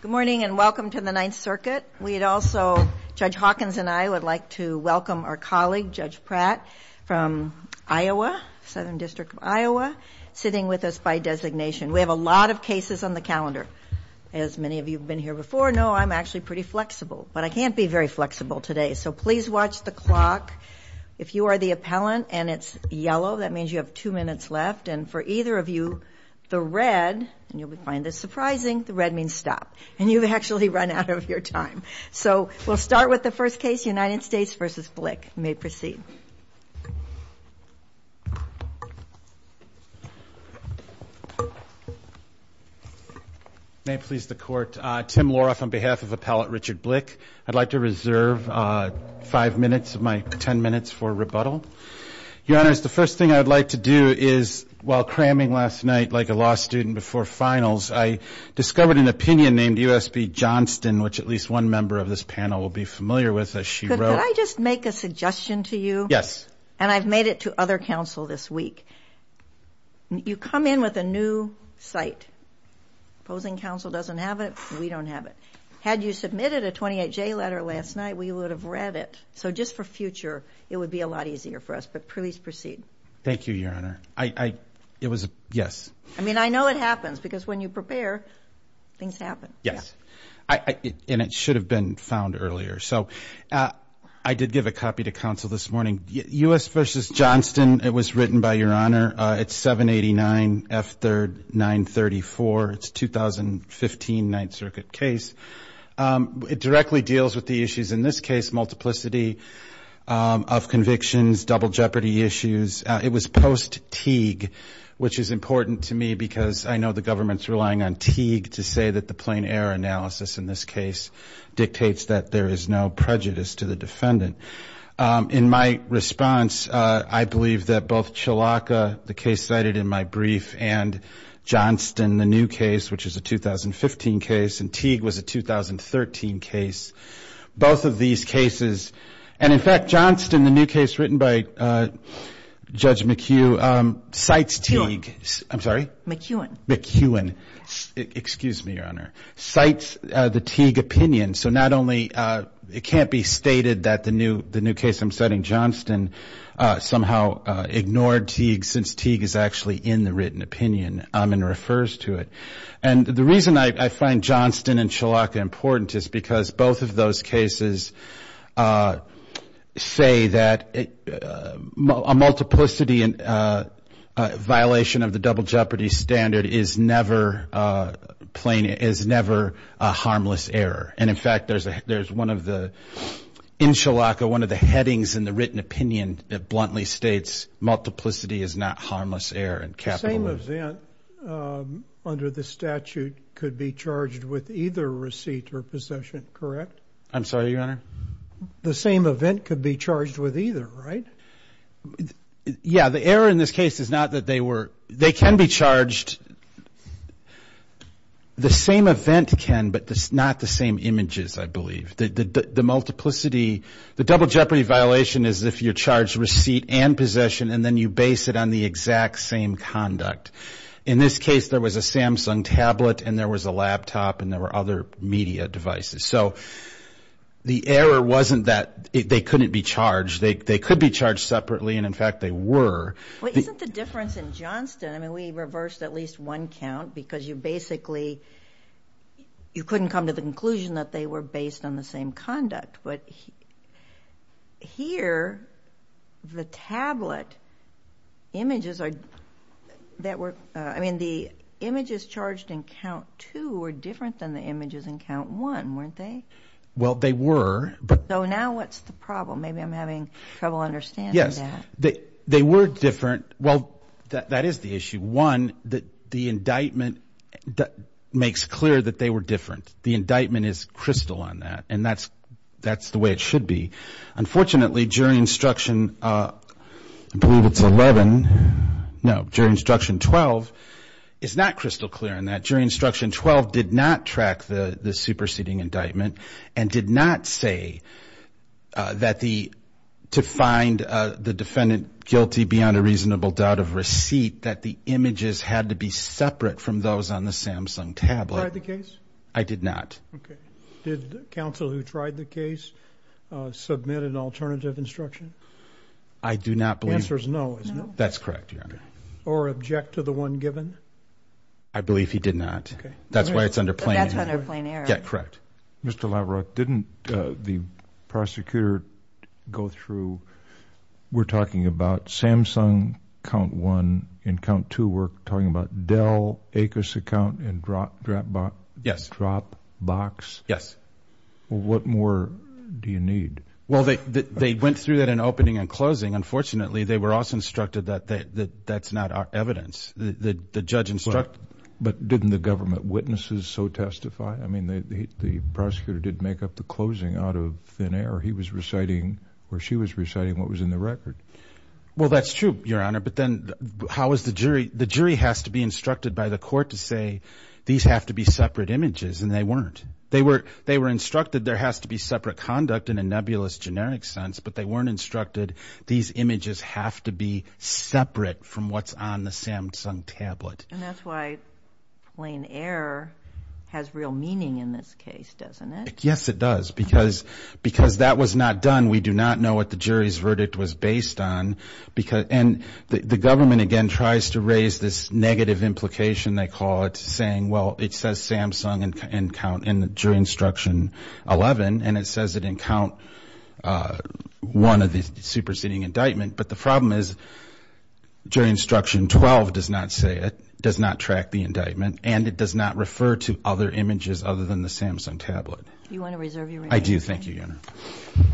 Good morning and welcome to the Ninth Circuit. We'd also, Judge Hawkins and I, would like to welcome our colleague, Judge Pratt, from Iowa, Southern District of Iowa, sitting with us by designation. We have a lot of cases on the calendar. As many of you have been here before know, I'm actually pretty flexible, but I can't be very flexible today, so please watch the clock. If you are the appellant and it's yellow, that means you have two minutes left, and for either of you, the red, and you'll find this surprising, the red means stop. And you've actually run out of your time. So we'll start with the first case, United States v. Blick. You may proceed. May it please the Court. Tim Loroff on behalf of Appellant Richard Blick. I'd like to reserve five minutes of my ten minutes for rebuttal. Your Honors, the first thing I'd like to do is, while cramming last night, like a law student before finals, I discovered an opinion named U.S.B. Johnston, which at least one member of this panel will be familiar with, as she wrote. Could I just make a suggestion to you? Yes. And I've made it to other counsel this week. You come in with a new cite. Opposing counsel doesn't have it. We don't have it. Had you submitted a 28J letter last night, we would have read it. So just for future, it would be a lot easier for us. But please proceed. Thank you, Your Honor. It was a yes. I mean, I know it happens, because when you prepare, things happen. Yes. And it should have been found earlier. So I did give a copy to counsel this morning. U.S. v. Johnston, it was written by Your Honor. It's 789F3-934. It's a 2015 Ninth Circuit case. It directly deals with the issues in this case, multiplicity of convictions, double jeopardy issues. It was post Teague, which is important to me, because I know the government's relying on Teague to say that the plain error analysis in this case dictates that there is no prejudice to the defendant. In my response, I believe that both Chalaka, the case cited in my brief, and Johnston, the new case, which is a 2015 case, and Teague was a 2013 case, both of these cases. And, in fact, Johnston, the new case written by Judge McHugh, cites Teague. McHughan. I'm sorry? McHughan. McHughan. Excuse me, Your Honor. Cites the Teague opinion. So not only it can't be stated that the new case I'm citing, Johnston, somehow ignored Teague since Teague is actually in the written opinion and refers to it. And the reason I find Johnston and Chalaka important is because both of those cases say that a multiplicity violation of the double jeopardy standard is never a harmless error. And, in fact, there's one of the, in Chalaka, one of the headings in the written opinion that bluntly states multiplicity is not harmless error. The same event under the statute could be charged with either receipt or possession, correct? I'm sorry, Your Honor? The same event could be charged with either, right? Yeah, the error in this case is not that they were. They can be charged. The same event can, but not the same images, I believe. The multiplicity, the double jeopardy violation is if you charge receipt and possession and then you base it on the exact same conduct. In this case, there was a Samsung tablet and there was a laptop and there were other media devices. So the error wasn't that they couldn't be charged. They could be charged separately, and, in fact, they were. But isn't the difference in Johnston, I mean, we reversed at least one count because you basically, you couldn't come to the conclusion that they were based on the same conduct. But here, the tablet images that were, I mean, the images charged in count two were different than the images in count one, weren't they? Well, they were. So now what's the problem? Maybe I'm having trouble understanding that. Yes, they were different. Well, that is the issue. One, the indictment makes clear that they were different. The indictment is crystal on that, and that's the way it should be. Unfortunately, jury instruction, I believe it's 11, no, jury instruction 12, is not crystal clear on that. Jury instruction 12 did not track the superseding indictment and did not say to find the defendant guilty beyond a reasonable doubt of receipt that the images had to be separate from those on the Samsung tablet. Did you try the case? I did not. Okay. Did counsel who tried the case submit an alternative instruction? I do not believe. The answer is no, isn't it? That's correct, Your Honor. Okay. Or object to the one given? I believe he did not. Okay. That's why it's under plain error. That's under plain error. Yeah, correct. Mr. Lavarock, didn't the prosecutor go through? We're talking about Samsung count one, and count two we're talking about Dell, Acos account, and Dropbox. Yes. What more do you need? Well, they went through that in opening and closing. Unfortunately, they were also instructed that that's not evidence. The judge instructed. But didn't the government witnesses so testify? I mean, the prosecutor did make up the closing out of thin air. He was reciting or she was reciting what was in the record. Well, that's true, Your Honor. But then how is the jury? The jury has to be instructed by the court to say these have to be separate images, and they weren't. They were instructed there has to be separate conduct in a nebulous generic sense, but they weren't instructed these images have to be separate from what's on the Samsung tablet. And that's why plain error has real meaning in this case, doesn't it? Yes, it does. Because that was not done. We do not know what the jury's verdict was based on. And the government, again, tries to raise this negative implication, they call it, saying, well, it says Samsung during Instruction 11, and it says it didn't count one of the superseding indictment. But the problem is, jury Instruction 12 does not say it, does not track the indictment, and it does not refer to other images other than the Samsung tablet. Do you want to reserve your right? I do. Thank you, Your Honor. Thank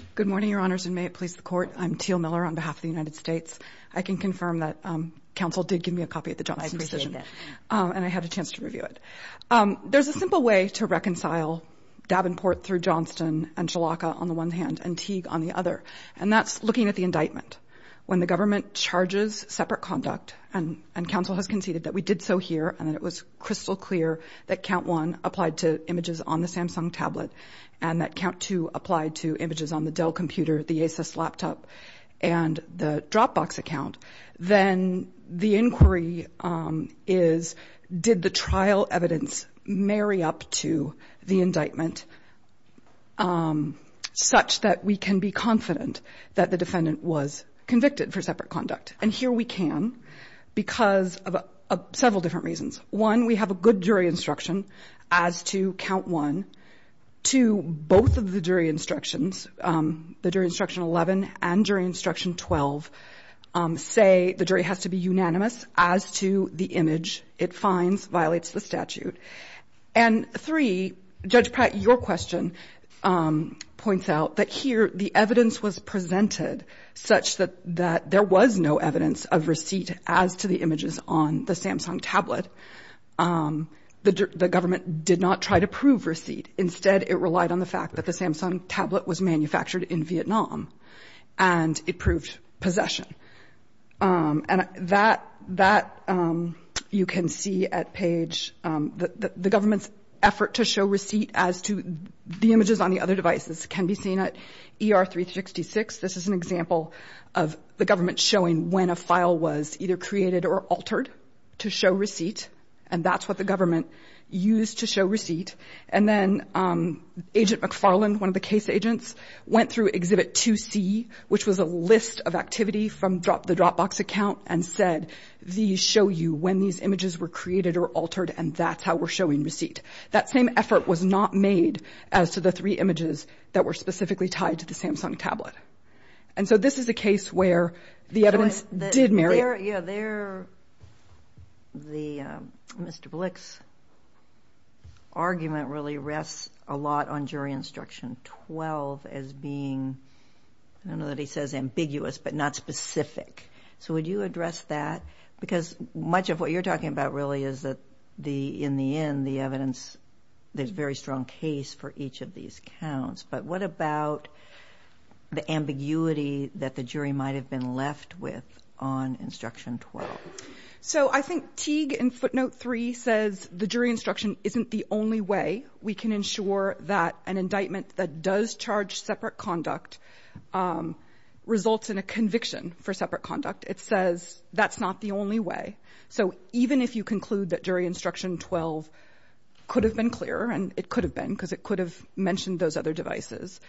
you. Good morning, Your Honors, and may it please the Court. I'm Teal Miller on behalf of the United States. I can confirm that counsel did give me a copy of the Johnston decision. I appreciate that. And I had a chance to review it. There's a simple way to reconcile Davenport through Johnston and Shalaka on the one hand and Teague on the other, and that's looking at the indictment. When the government charges separate conduct, and counsel has conceded that we did so here and that it was crystal clear that count one applied to images on the Samsung tablet and that count two applied to images on the Dell computer, the Asus laptop, and the Dropbox account, then the inquiry is did the trial evidence marry up to the indictment such that we can be confident that the defendant was convicted for separate conduct? And here we can because of several different reasons. One, we have a good jury instruction as to count one. Two, both of the jury instructions, the jury instruction 11 and jury instruction 12, say the jury has to be unanimous as to the image it finds violates the statute. And three, Judge Pratt, your question points out that here the evidence was presented such that there was no evidence of receipt as to the images on the Samsung tablet. The government did not try to prove receipt. Instead, it relied on the fact that the Samsung tablet was manufactured in Vietnam, and it proved possession. And that you can see at page the government's effort to show receipt as to the images on the other devices can be seen at ER-366. This is an example of the government showing when a file was either created or altered to show receipt, and that's what the government used to show receipt. And then Agent McFarland, one of the case agents, went through Exhibit 2C, which was a list of activity from the Dropbox account, and said these show you when these images were created or altered, and that's how we're showing receipt. That same effort was not made as to the three images that were specifically tied to the Samsung tablet. And so this is a case where the evidence did marry. Yeah, there Mr. Blick's argument really rests a lot on jury instruction 12 as being, I don't know that he says ambiguous, but not specific. So would you address that? Because much of what you're talking about really is that in the end the evidence, there's a very strong case for each of these counts. But what about the ambiguity that the jury might have been left with on instruction 12? So I think Teague in footnote 3 says the jury instruction isn't the only way we can ensure that an indictment that does charge separate conduct results in a conviction for separate conduct. It says that's not the only way. So even if you conclude that jury instruction 12 could have been clearer, and it could have been because it could have mentioned those other devices,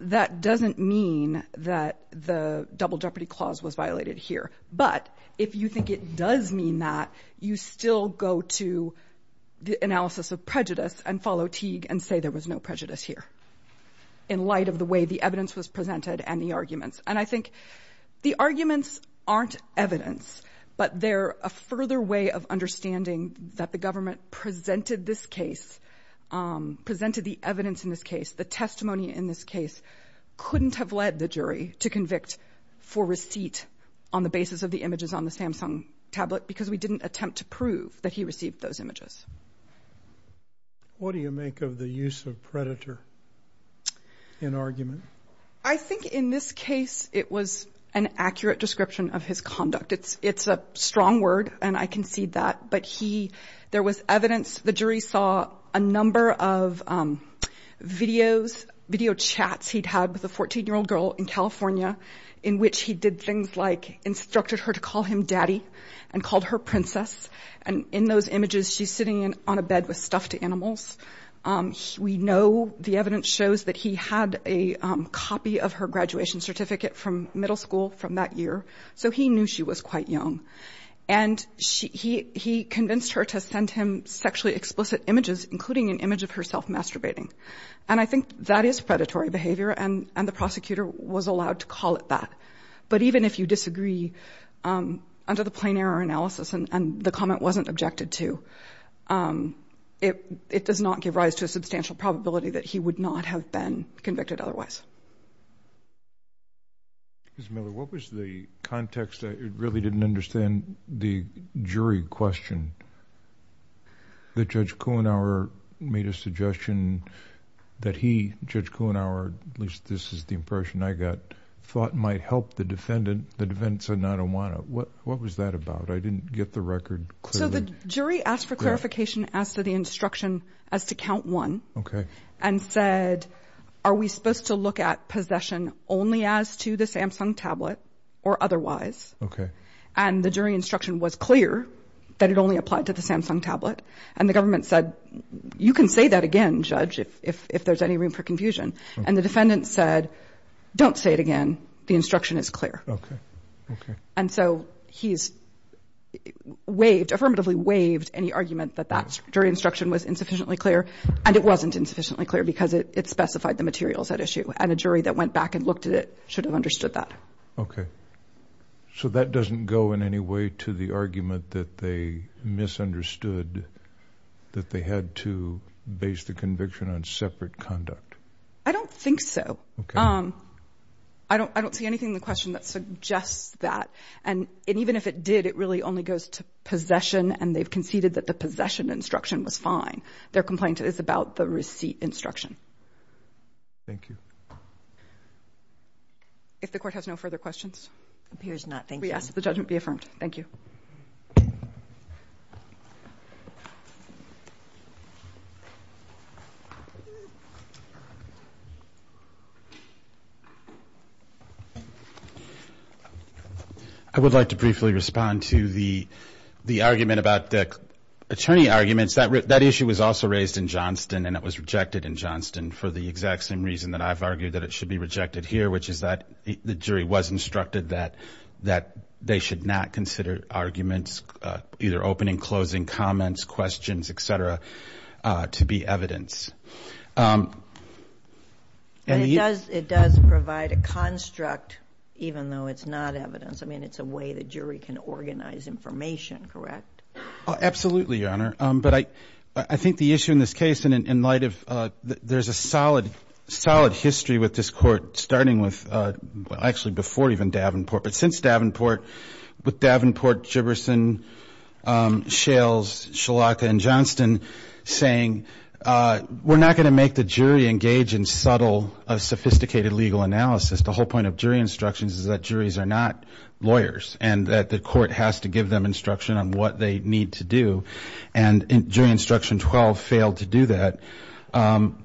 that doesn't mean that the double jeopardy clause was violated here. But if you think it does mean that, you still go to the analysis of prejudice and follow Teague and say there was no prejudice here in light of the way the evidence was presented and the arguments. And I think the arguments aren't evidence, but they're a further way of understanding that the government presented this case, presented the evidence in this case, the testimony in this case, couldn't have led the jury to convict for receipt on the basis of the images on the Samsung tablet because we didn't attempt to prove that he received those images. What do you make of the use of predator in argument? I think in this case it was an accurate description of his conduct. It's a strong word, and I concede that. But there was evidence. The jury saw a number of video chats he'd had with a 14-year-old girl in California in which he did things like instructed her to call him daddy and called her princess. And in those images she's sitting on a bed with stuffed animals. We know the evidence shows that he had a copy of her graduation certificate from middle school from that year, so he knew she was quite young. And he convinced her to send him sexually explicit images, including an image of herself masturbating. And I think that is predatory behavior, and the prosecutor was allowed to call it that. But even if you disagree under the plain error analysis and the comment wasn't objected to, it does not give rise to a substantial probability that he would not have been convicted otherwise. Ms. Miller, what was the context? I really didn't understand the jury question that Judge Kuhnauer made a suggestion that he, Judge Kuhnauer, at least this is the impression I got, thought might help the defendant. The defendant said, I don't want to. What was that about? I didn't get the record clearly. So the jury asked for clarification, asked for the instruction as to count one, and said, are we supposed to look at possession only as to the Samsung tablet or otherwise? Okay. And the jury instruction was clear that it only applied to the Samsung tablet. And the government said, you can say that again, Judge, if there's any room for confusion. And the defendant said, don't say it again. The instruction is clear. Okay. Okay. And so he's waived, affirmatively waived any argument that that jury instruction was insufficiently clear. And it wasn't insufficiently clear because it specified the materials at issue. And a jury that went back and looked at it should have understood that. Okay. So that doesn't go in any way to the argument that they misunderstood that they had to base the conviction on separate conduct? I don't think so. Okay. I don't see anything in the question that suggests that. And even if it did, it really only goes to possession, and they've conceded that the possession instruction was fine. Their complaint is about the receipt instruction. Thank you. If the Court has no further questions. Appears not. Thank you. We ask that the judgment be affirmed. Thank you. I would like to briefly respond to the argument about the attorney arguments. That issue was also raised in Johnston, and it was rejected in Johnston for the exact same reason that I've argued, that it should be rejected here, which is that the jury was instructed that they should not consider arguments, either opening, closing, comments, questions, et cetera, to be evidence. It does provide a construct, even though it's not evidence. I mean, it's a way the jury can organize information, correct? Absolutely, Your Honor. But I think the issue in this case, in light of there's a solid history with this Court, starting with actually before even Davenport, but since Davenport, with Davenport, Jibberson, Shales, Shalaka, and Johnston saying, we're not going to make the jury engage in subtle, sophisticated legal analysis. The whole point of jury instructions is that juries are not lawyers, and that the Court has to give them instruction on what they need to do, and jury instruction 12 failed to do that, and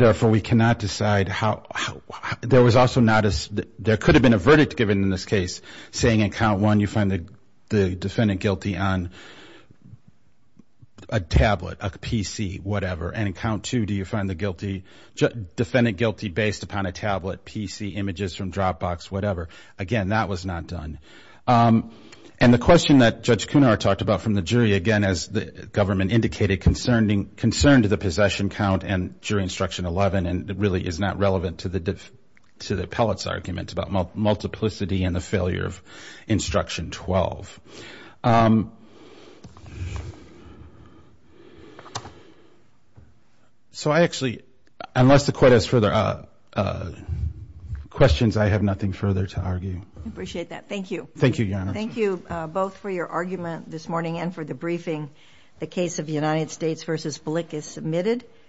therefore we cannot decide how. There was also not a – there could have been a verdict given in this case, saying in count one you find the defendant guilty on a tablet, a PC, whatever, and in count two do you find the defendant guilty based upon a tablet, PC, images from Dropbox, whatever. Again, that was not done. And the question that Judge Kunar talked about from the jury, again, as the government indicated, concerned the possession count and jury instruction 11, and it really is not relevant to the appellate's argument about multiplicity and the failure of instruction 12. So I actually – unless the Court has further questions, I have nothing further to argue. I appreciate that. Thank you. Thank you, Your Honor. Thank you both for your argument this morning and for the briefing. The case of United States v. Blick is submitted.